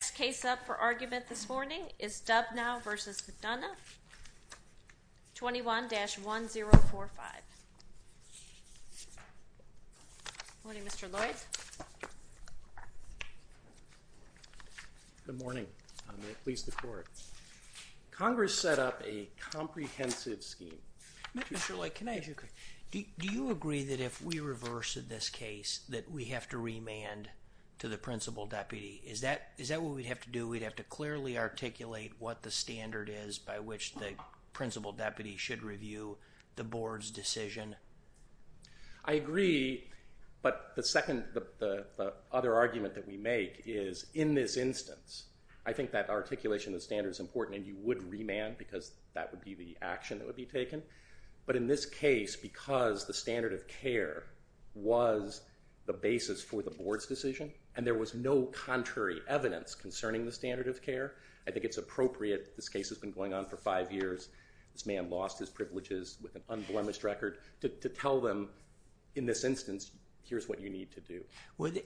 The next case up for argument this morning is Dubnow v. McDonough, 21-1045. Good morning Mr. Lloyd. Good morning. May it please the court. Congress set up a comprehensive scheme. Mr. Sherlock, can I ask you a question? Do you agree that if we reverse this case that we have to remand to the principal deputy? Is that what we'd have to do? We'd have to clearly articulate what the standard is by which the principal deputy should review the board's decision? I agree, but the other argument that we make is in this instance, I think that articulation of the standard is important and you would remand because that would be the action that would be taken. But in this case, because the standard of care was the basis for the board's decision and there was no contrary evidence concerning the standard of care, I think it's appropriate. This case has been going on for five years. This man lost his privileges with an unblemished record. To tell them in this instance, here's what you need to do.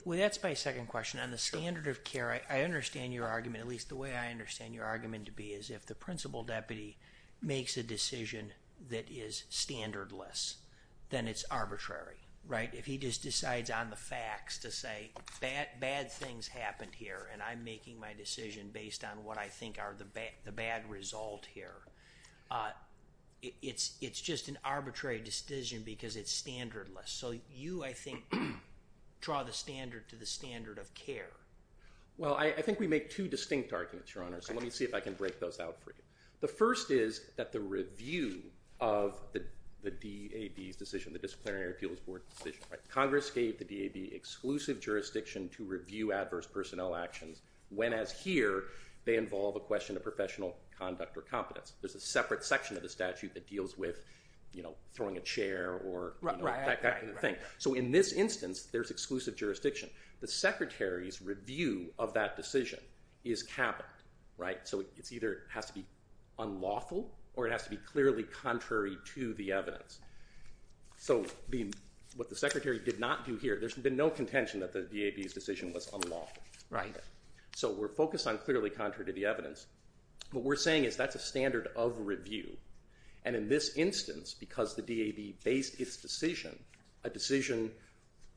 That's my second question. On the standard of care, I understand your argument. At least the way I understand your argument to be is if the principal deputy makes a decision that is standardless, then it's arbitrary. If he just decides on the facts to say bad things happened here and I'm making my decision based on what I think are the bad result here, it's just an arbitrary decision because it's standardless. So you, I think, draw the standard to the standard of care. Well, I think we make two distinct arguments, Your Honor, so let me see if I can break those out for you. The first is that the review of the DAB's decision, the Disciplinary Appeals Board's decision. Congress gave the DAB exclusive jurisdiction to review adverse personnel actions when, as here, they involve a question of professional conduct or competence. There's a separate section of the statute that deals with throwing a chair or that kind of thing. So in this instance, there's exclusive jurisdiction. The Secretary's review of that decision is capital, right? So it either has to be unlawful or it has to be clearly contrary to the evidence. So what the Secretary did not do here, there's been no contention that the DAB's decision was unlawful. Right. So we're focused on clearly contrary to the evidence. What we're saying is that's a standard of review. And in this instance, because the DAB based its decision, a decision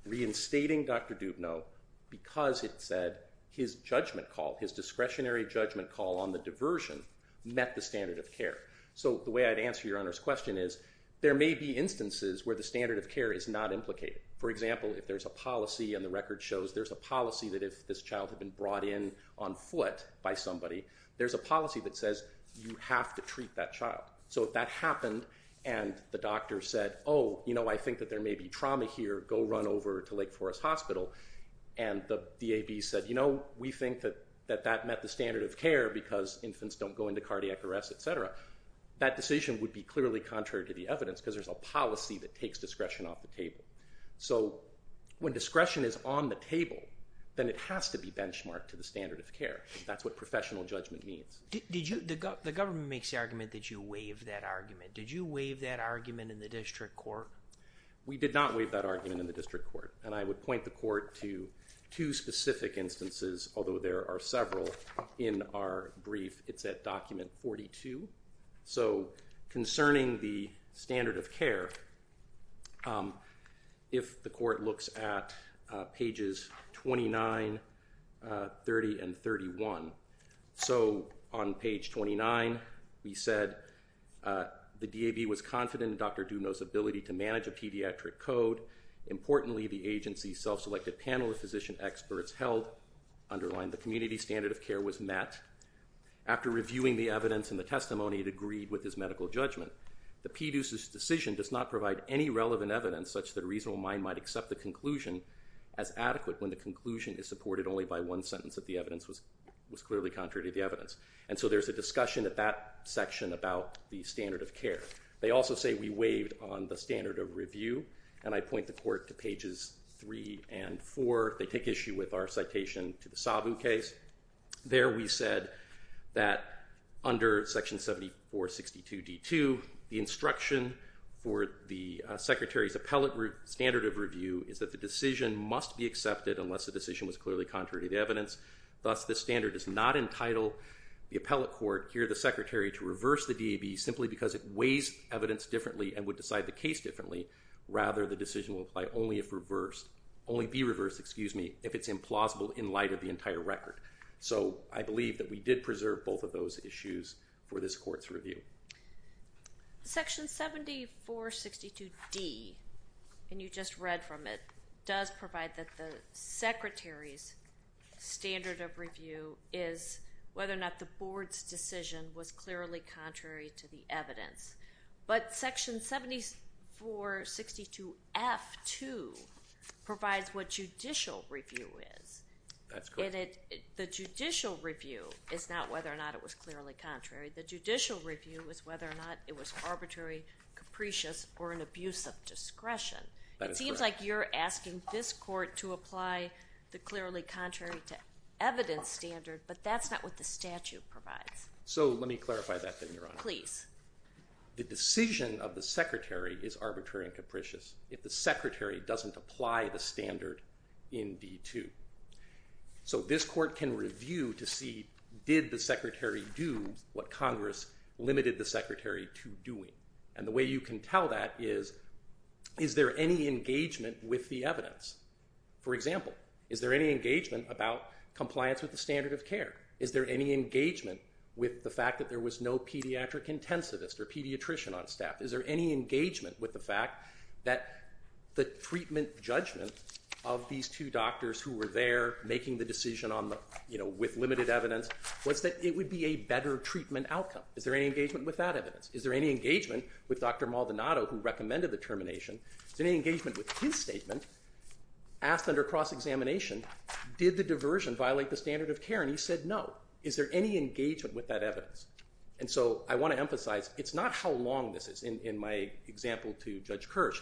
reinstating Dr. Dubnow, because it said his judgment call, his discretionary judgment call on the diversion, met the standard of care. So the way I'd answer Your Honor's question is there may be instances where the standard of care is not implicated. For example, if there's a policy and the record shows there's a policy that if this child had been brought in on foot by somebody, there's a policy that says you have to treat that child. So if that happened and the doctor said, oh, you know, I think that there may be trauma here, go run over to Lake Forest Hospital. And the DAB said, you know, we think that that met the standard of care because infants don't go into cardiac arrest, et cetera. That decision would be clearly contrary to the evidence because there's a policy that takes discretion off the table. So when discretion is on the table, then it has to be benchmarked to the standard of care. That's what professional judgment means. The government makes the argument that you waived that argument. Did you waive that argument in the district court? We did not waive that argument in the district court. And I would point the court to two specific instances, although there are several in our brief. It's at document 42. So concerning the standard of care, if the court looks at pages 29, 30, and 31. So on page 29, we said the DAB was confident in Dr. Duno's ability to manage a pediatric code. Importantly, the agency's self-selected panel of physician experts held, underlined the community standard of care was met. After reviewing the evidence and the testimony, it agreed with his medical judgment. The PDUC's decision does not provide any relevant evidence such that a reasonable mind might accept the conclusion as adequate when the conclusion is supported only by one sentence that the evidence was clearly contrary to the evidence. And so there's a discussion at that section about the standard of care. They also say we waived on the standard of review. And I point the court to pages 3 and 4. They take issue with our citation to the Sabu case. There we said that under section 7462D2, the instruction for the secretary's appellate standard of review is that the decision must be accepted unless the decision was clearly contrary to the evidence. Thus, the standard does not entitle the appellate court, here the secretary, to reverse the DAB simply because it weighs evidence differently and would decide the case differently. Rather, the decision will apply only if reversed, only be reversed, excuse me, if it's implausible in light of the entire record. So I believe that we did preserve both of those issues for this court's review. Section 7462D, and you just read from it, does provide that the secretary's standard of review is whether or not the board's decision was clearly contrary to the evidence. But section 7462F2 provides what judicial review is. That's correct. And the judicial review is not whether or not it was clearly contrary. The judicial review is whether or not it was arbitrary, capricious, or an abuse of discretion. That is correct. It seems like you're asking this court to apply the clearly contrary to evidence standard, but that's not what the statute provides. So let me clarify that then, Your Honor. Please. The decision of the secretary is arbitrary and capricious if the secretary doesn't apply the standard in D2. So this court can review to see, did the secretary do what Congress limited the secretary to doing? And the way you can tell that is, is there any engagement with the evidence? For example, is there any engagement about compliance with the standard of care? Is there any engagement with the fact that there was no pediatric intensivist or pediatrician on staff? Is there any engagement with the fact that the treatment judgment of these two doctors who were there making the decision with limited evidence was that it would be a better treatment outcome? Is there any engagement with that evidence? Is there any engagement with Dr. Maldonado, who recommended the termination? Is there any engagement with his statement, asked under cross-examination, did the diversion violate the standard of care? And he said no. Is there any engagement with that evidence? And so I want to emphasize, it's not how long this is. In my example to Judge Kirsch,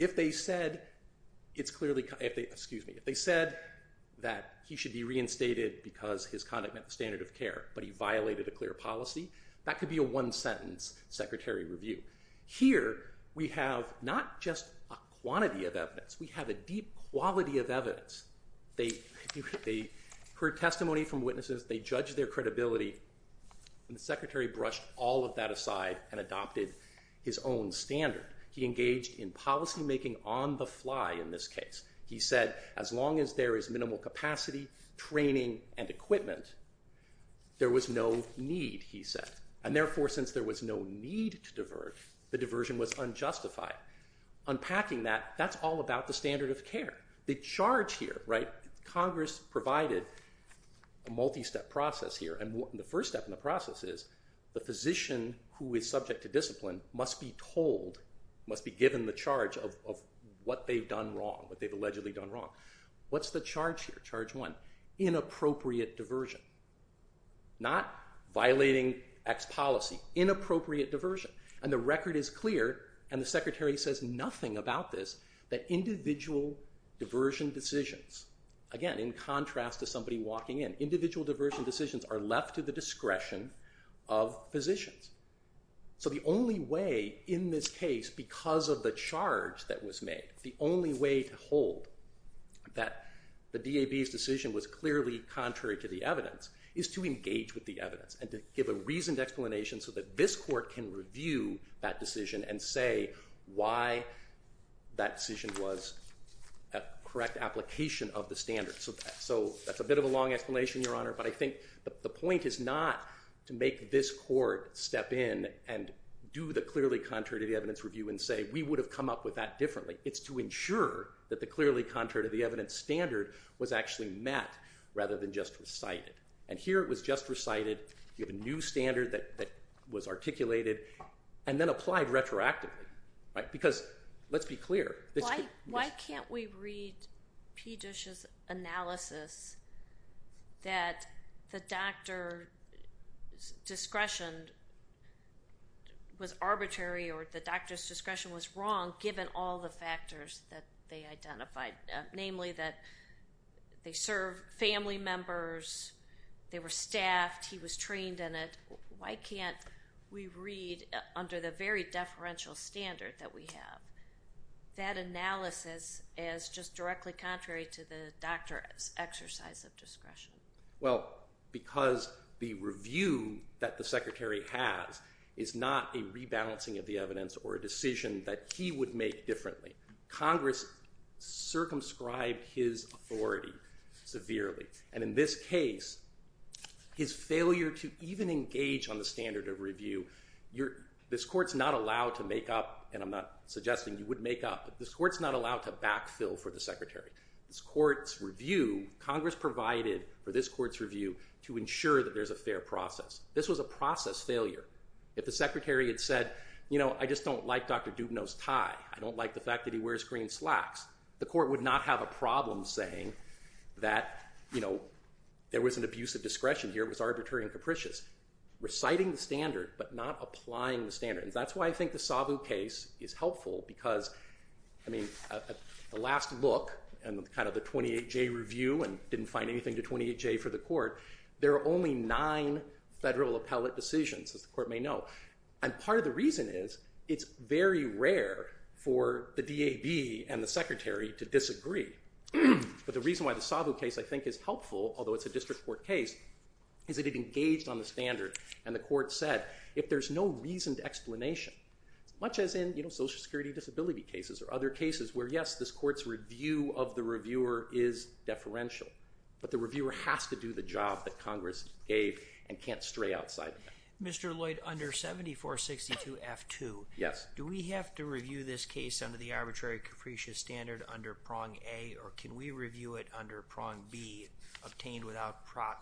if they said that he should be reinstated because his conduct met the standard of care, but he violated a clear policy, that could be a one-sentence secretary review. Here, we have not just a quantity of evidence, we have a deep quality of evidence. They heard testimony from witnesses. They judged their credibility. And the secretary brushed all of that aside and adopted his own standard. He engaged in policymaking on the fly in this case. He said, as long as there is minimal capacity, training, and equipment, there was no need, he said. And therefore, since there was no need to divert, the diversion was unjustified. Unpacking that, that's all about the standard of care. The charge here, Congress provided a multi-step process here. And the first step in the process is the physician who is subject to discipline must be told, must be given the charge of what they've done wrong, what they've allegedly done wrong. What's the charge here? Charge one, inappropriate diversion. Not violating X policy. Inappropriate diversion. And the record is clear, and the secretary says nothing about this, that individual diversion decisions, again, in contrast to somebody walking in, individual diversion decisions are left to the discretion of physicians. So the only way in this case, because of the charge that was made, the only way to hold that the DAB's decision was clearly contrary to the evidence, is to engage with the evidence. And to give a reasoned explanation so that this court can review that decision and say why that decision was a correct application of the standards. So that's a bit of a long explanation, Your Honor, but I think the point is not to make this court step in and do the clearly contrary to the evidence review and say, we would have come up with that differently. It's to ensure that the clearly contrary to the evidence standard was actually met rather than just recited. And here it was just recited. You have a new standard that was articulated and then applied retroactively. Because let's be clear. Why can't we read P. Dish's analysis that the doctor's discretion was arbitrary or the doctor's discretion was wrong given all the factors that they identified? Namely, that they serve family members, they were staffed, he was trained in it. Why can't we read, under the very deferential standard that we have, that analysis as just directly contrary to the doctor's exercise of discretion? Well, because the review that the Secretary has is not a rebalancing of the evidence or a decision that he would make differently. Congress circumscribed his authority severely. And in this case, his failure to even engage on the standard of review, this court's not allowed to make up, and I'm not suggesting you would make up, but this court's not allowed to backfill for the Secretary. Congress provided for this court's review to ensure that there's a fair process. This was a process failure. If the Secretary had said, you know, I just don't like Dr. Dubnow's tie. I don't like the fact that he wears green slacks. The court would not have a problem saying that, you know, there was an abuse of discretion here, it was arbitrary and capricious. Reciting the standard, but not applying the standard. And that's why I think the Sabu case is helpful, because, I mean, the last look, and kind of the 28-J review, and didn't find anything to 28-J for the court. There are only nine federal appellate decisions, as the court may know. And part of the reason is, it's very rare for the DAB and the Secretary to disagree. But the reason why the Sabu case, I think, is helpful, although it's a district court case, is that it engaged on the standard. And the court said, if there's no reasoned explanation, much as in, you know, Social Security disability cases or other cases where, yes, this court's review of the reviewer is deferential. But the reviewer has to do the job that Congress gave and can't stray outside of that. Mr. Lloyd, under 7462F2, do we have to review this case under the arbitrary capricious standard under prong A, or can we review it under prong B, obtained without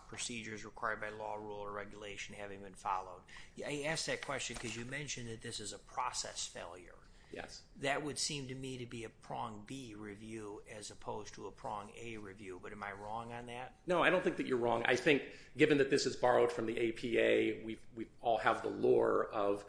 procedures required by law, rule, or regulation having been followed? I ask that question because you mentioned that this is a process failure. Yes. That would seem to me to be a prong B review as opposed to a prong A review, but am I wrong on that? No, I don't think that you're wrong. I think, given that this is borrowed from the APA, we all have the lure of,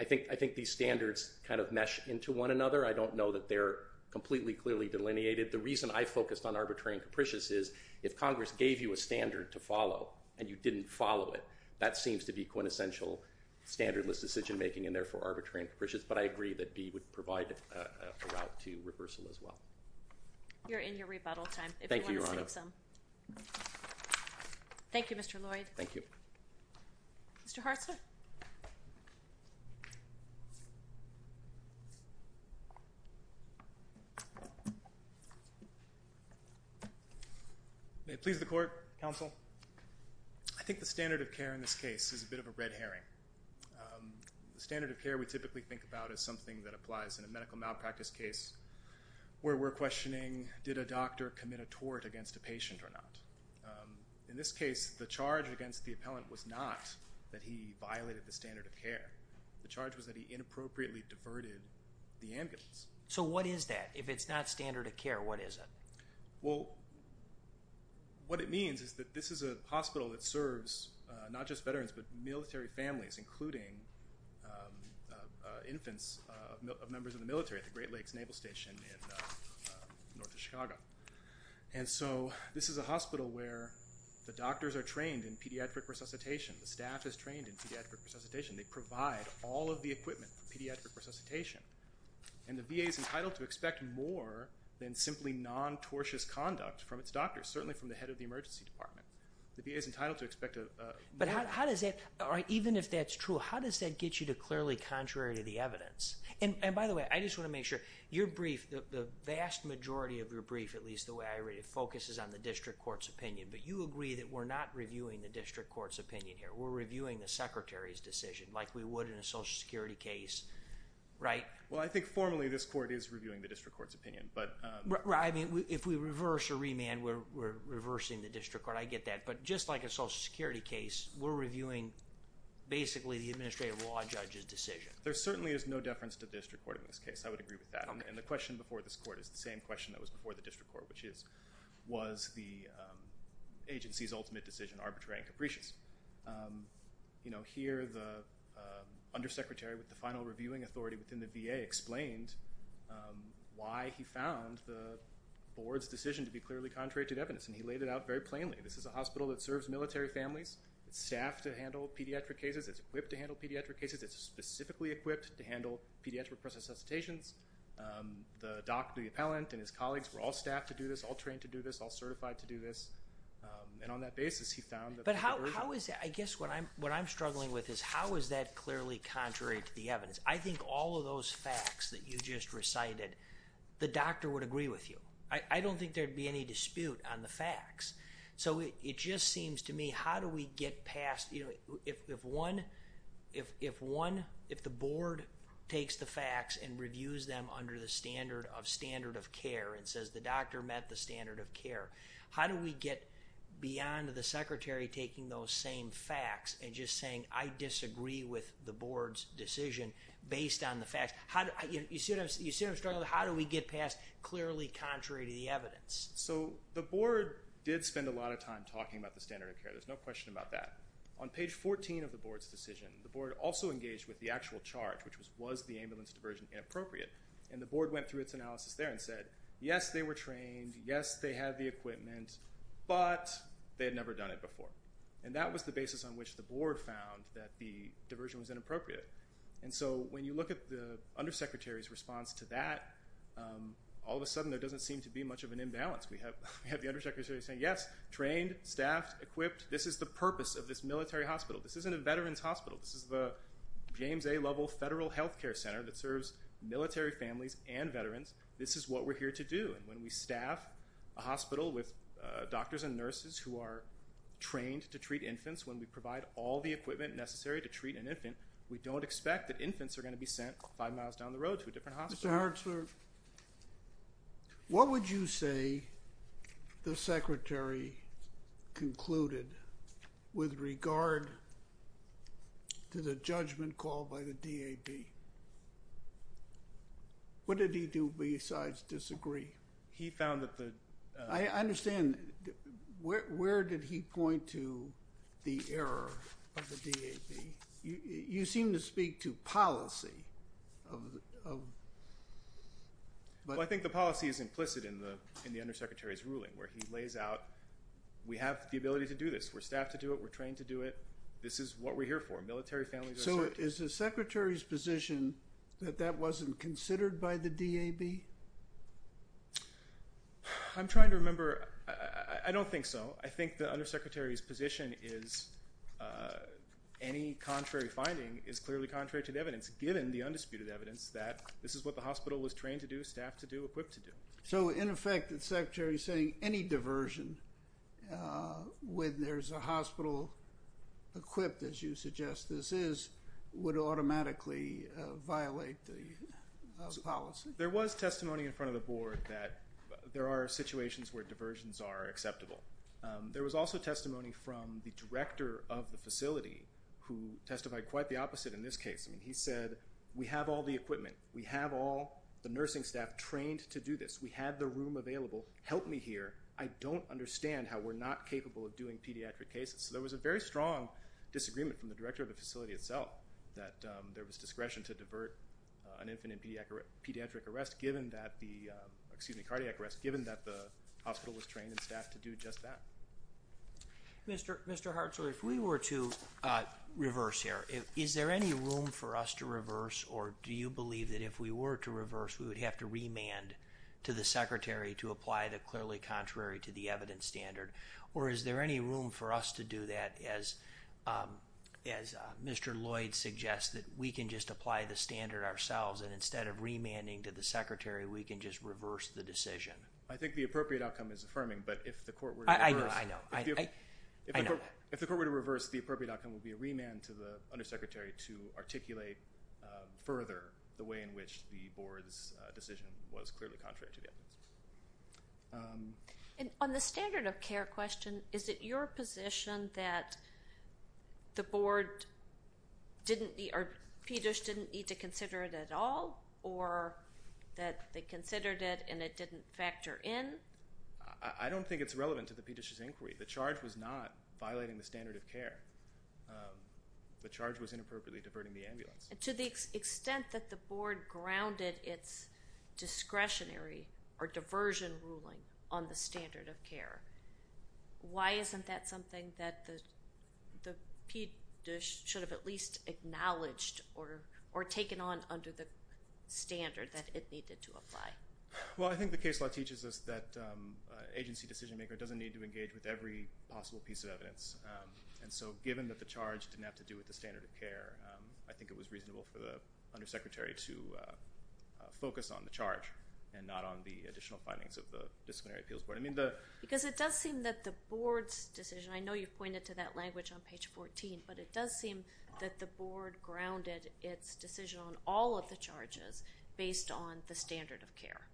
I think these standards kind of mesh into one another. I don't know that they're completely clearly delineated. The reason I focused on arbitrary and capricious is, if Congress gave you a standard to follow and you didn't follow it, that seems to be quintessential standardless decision making and, therefore, arbitrary and capricious. But I agree that B would provide a route to reversal as well. You're in your rebuttal time. Thank you, Your Honor. Thank you, Mr. Lloyd. Thank you. Mr. Hartzler? May it please the Court, Counsel? I think the standard of care in this case is a bit of a red herring. The standard of care we typically think about is something that applies in a medical malpractice case where we're questioning, did a doctor commit a tort against a patient or not? In this case, the charge against the appellant was not that he violated the standard of care. The charge was that he inappropriately diverted the ambulance. So what is that? If it's not standard of care, what is it? Well, what it means is that this is a hospital that serves not just veterans but military families, including infants of members of the military at the Great Lakes Naval Station in northern Chicago. And so this is a hospital where the doctors are trained in pediatric resuscitation. The staff is trained in pediatric resuscitation. They provide all of the equipment for pediatric resuscitation. And the VA is entitled to expect more than simply non-tortious conduct from its doctors, certainly from the head of the emergency department. The VA is entitled to expect more. But how does that, even if that's true, how does that get you to clearly contrary to the evidence? And by the way, I just want to make sure, your brief, the vast majority of your brief, at least the way I read it, focuses on the district court's opinion. But you agree that we're not reviewing the district court's opinion here. We're reviewing the secretary's decision like we would in a Social Security case, right? Well, I think formally this court is reviewing the district court's opinion. Right. I mean, if we reverse or remand, we're reversing the district court. I get that. But just like a Social Security case, we're reviewing basically the administrative law judge's decision. There certainly is no deference to district court in this case. I would agree with that. And the question before this court is the same question that was before the district court, which is, was the agency's ultimate decision arbitrary and capricious? You know, here the undersecretary with the final reviewing authority within the VA explained why he found the board's decision to be clearly contrary to evidence. And he laid it out very plainly. This is a hospital that serves military families. It's staffed to handle pediatric cases. It's equipped to handle pediatric cases. It's specifically equipped to handle pediatric process hesitations. The doctor, the appellant, and his colleagues were all staffed to do this, all trained to do this, all certified to do this. And on that basis, he found that the board version. But how is that? I guess what I'm struggling with is how is that clearly contrary to the evidence? I think all of those facts that you just recited, the doctor would agree with you. I don't think there would be any dispute on the facts. So it just seems to me how do we get past, you know, if one, if the board takes the facts and reviews them under the standard of standard of care and says the doctor met the standard of care, how do we get beyond the secretary taking those same facts and just saying I disagree with the board's decision based on the facts? You see what I'm struggling with? How do we get past clearly contrary to the evidence? So the board did spend a lot of time talking about the standard of care. There's no question about that. On page 14 of the board's decision, the board also engaged with the actual charge, which was was the ambulance diversion inappropriate? And the board went through its analysis there and said, yes, they were trained, yes, they had the equipment, but they had never done it before. And that was the basis on which the board found that the diversion was inappropriate. And so when you look at the undersecretary's response to that, all of a sudden there doesn't seem to be much of an imbalance. We have the undersecretary saying, yes, trained, staffed, equipped. This is the purpose of this military hospital. This isn't a veterans hospital. This is the James A. Lovell Federal Health Care Center that serves military families and veterans. This is what we're here to do. And when we staff a hospital with doctors and nurses who are trained to treat infants, when we provide all the equipment necessary to treat an infant, we don't expect that infants are going to be sent five miles down the road to a different hospital. Mr. Hertzberg, what would you say the secretary concluded with regard to the judgment called by the DAB? What did he do besides disagree? He found that the – I understand. Where did he point to the error of the DAB? You seem to speak to policy. Well, I think the policy is implicit in the undersecretary's ruling where he lays out we have the ability to do this. We're staffed to do it. We're trained to do it. This is what we're here for, military families. So is the secretary's position that that wasn't considered by the DAB? I'm trying to remember. I don't think so. I think the undersecretary's position is any contrary finding is clearly contrary to the evidence, given the undisputed evidence that this is what the hospital was trained to do, staffed to do, equipped to do. So, in effect, the secretary is saying any diversion when there's a hospital equipped, as you suggest this is, would automatically violate the policy. There was testimony in front of the board that there are situations where diversions are acceptable. There was also testimony from the director of the facility who testified quite the opposite in this case. I mean, he said we have all the equipment. We have all the nursing staff trained to do this. We have the room available. Help me here. I don't understand how we're not capable of doing pediatric cases. There was a very strong disagreement from the director of the facility itself that there was discretion to divert an infant and pediatric arrest given that the hospital was trained and staffed to do just that. Mr. Hartzler, if we were to reverse here, is there any room for us to reverse, or do you believe that if we were to reverse we would have to remand to the secretary to apply the clearly contrary to the evidence standard? Or is there any room for us to do that, as Mr. Lloyd suggests, that we can just apply the standard ourselves and instead of remanding to the secretary we can just reverse the decision? I think the appropriate outcome is affirming, but if the court were to reverse the appropriate outcome would be a remand to the undersecretary to articulate further the way in which the board's decision was clearly contrary to the evidence. On the standard of care question, is it your position that the board didn't need or PEDISH didn't need to consider it at all or that they considered it and it didn't factor in? I don't think it's relevant to the PEDISH's inquiry. The charge was not violating the standard of care. To the extent that the board grounded its discretionary or diversion ruling on the standard of care, why isn't that something that the PEDISH should have at least acknowledged or taken on under the standard that it needed to apply? Well, I think the case law teaches us that an agency decision maker doesn't need to engage with every possible piece of evidence. And so given that the charge didn't have to do with the standard of care, I think it was reasonable for the undersecretary to focus on the charge and not on the additional findings of the disciplinary appeals board. Because it does seem that the board's decision, I know you pointed to that language on page 14, but it does seem that the board grounded its decision on all of the charges based on the standard of care.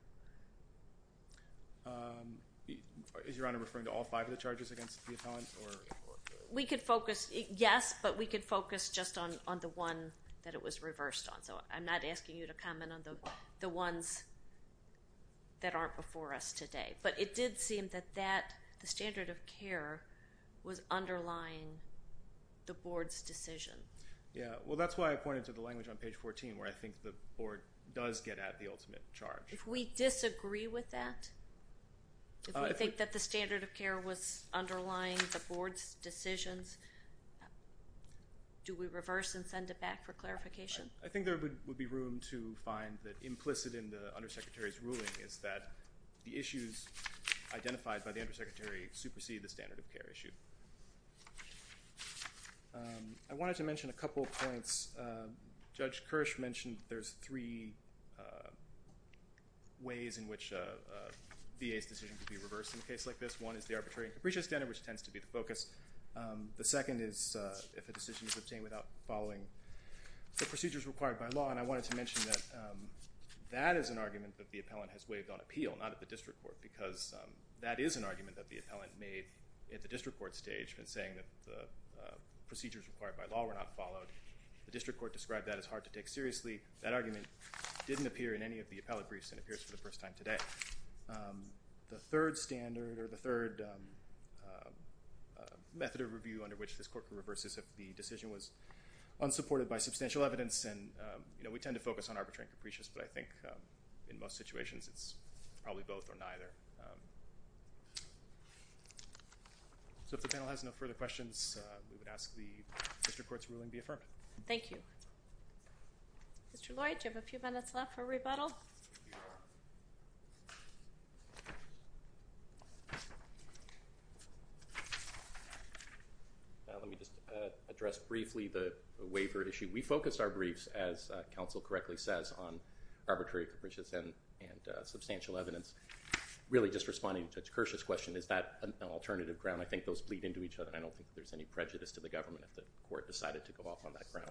Is Your Honor referring to all five of the charges against the appellant? We could focus, yes, but we could focus just on the one that it was reversed on. So I'm not asking you to comment on the ones that aren't before us today. But it did seem that the standard of care was underlying the board's decision. Yeah, well that's why I pointed to the language on page 14 where I think the board does get at the ultimate charge. If we disagree with that, if we think that the standard of care was underlying the board's decisions, do we reverse and send it back for clarification? I think there would be room to find that implicit in the undersecretary's ruling is that the issues identified by the undersecretary supersede the standard of care issue. I wanted to mention a couple of points. Judge Kirsch mentioned there's three ways in which VA's decision could be reversed in a case like this. One is the arbitrary and capricious standard, which tends to be the focus. The second is if a decision is obtained without following the procedures required by law. And I wanted to mention that that is an argument that the appellant has waived on appeal, not at the district court, because that is an argument that the appellant made at the district court stage in saying that the procedures required by law were not followed. The district court described that as hard to take seriously. That argument didn't appear in any of the appellate briefs and appears for the first time today. The third standard or the third method of review under which this court could reverse is if the decision was unsupported by substantial evidence. We tend to focus on arbitrary and capricious, but I think in most situations it's probably both or neither. So if the panel has no further questions, we would ask the district court's ruling be affirmed. Thank you. Mr. Lloyd, you have a few minutes left for rebuttal. Let me just address briefly the waiver issue. We focused our briefs, as counsel correctly says, on arbitrary, capricious, and substantial evidence. Really, just responding to Judge Kershaw's question, is that an alternative ground? I think those bleed into each other. I don't think there's any prejudice to the government if the court decided to go off on that ground.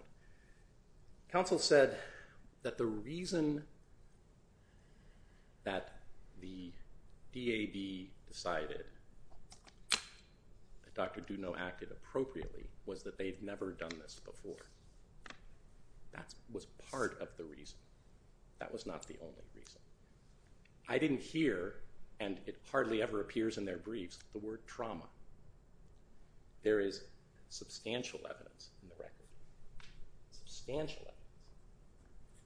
Counsel said that the reason that the DAD decided that Dr. Doudno acted appropriately was that they'd never done this before. That was part of the reason. That was not the only reason. I didn't hear, and it hardly ever appears in their briefs, the word trauma. There is substantial evidence in the record. Substantial evidence.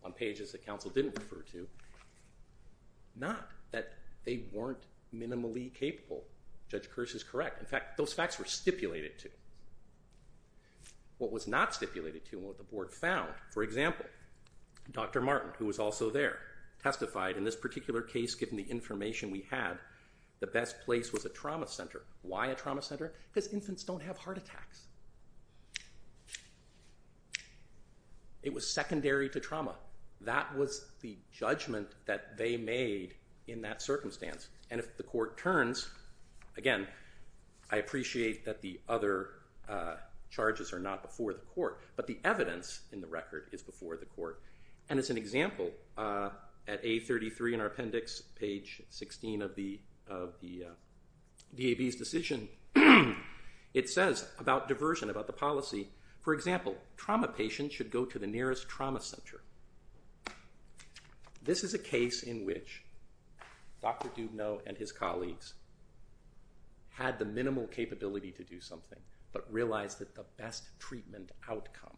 On pages that counsel didn't refer to. Not that they weren't minimally capable. Judge Kersh is correct. In fact, those facts were stipulated to. What was not stipulated to, and what the board found, for example, Dr. Martin, who was also there, testified in this particular case, given the information we had, the best place was a trauma center. Why a trauma center? Because infants don't have heart attacks. It was secondary to trauma. That was the judgment that they made in that circumstance. And if the court turns, again, I appreciate that the other charges are not before the court, but the evidence in the record is before the court. And as an example, at A33 in our appendix, page 16 of the DAB's decision, it says about diversion, about the policy, for example, trauma patients should go to the nearest trauma center. This is a case in which Dr. Dubnow and his colleagues had the minimal capability to do something, but realized that the best treatment outcome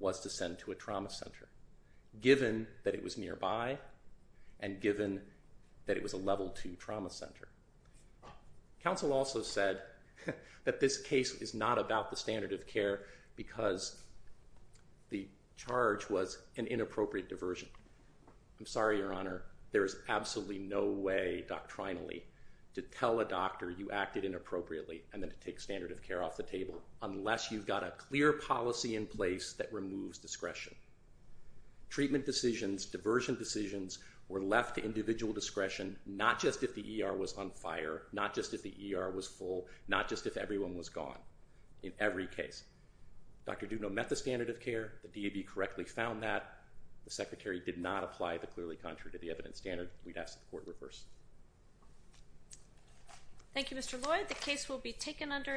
was to send to a trauma center, given that it was nearby and given that it was a level two trauma center. Council also said that this case is not about the standard of care because the charge was an inappropriate diversion. I'm sorry, Your Honor. There is absolutely no way doctrinally to tell a doctor you acted inappropriately and then to take standard of care off the table, unless you've got a clear policy in place that removes discretion. Treatment decisions, diversion decisions, were left to individual discretion, not just if the ER was on fire, not just if the ER was full, not just if everyone was gone in every case. Dr. Dubnow met the standard of care. The DAB correctly found that. The secretary did not apply the clearly contrary to the evidence standard. We'd ask that the court reverse. Thank you, Mr. Lloyd. The case will be taken under advisement.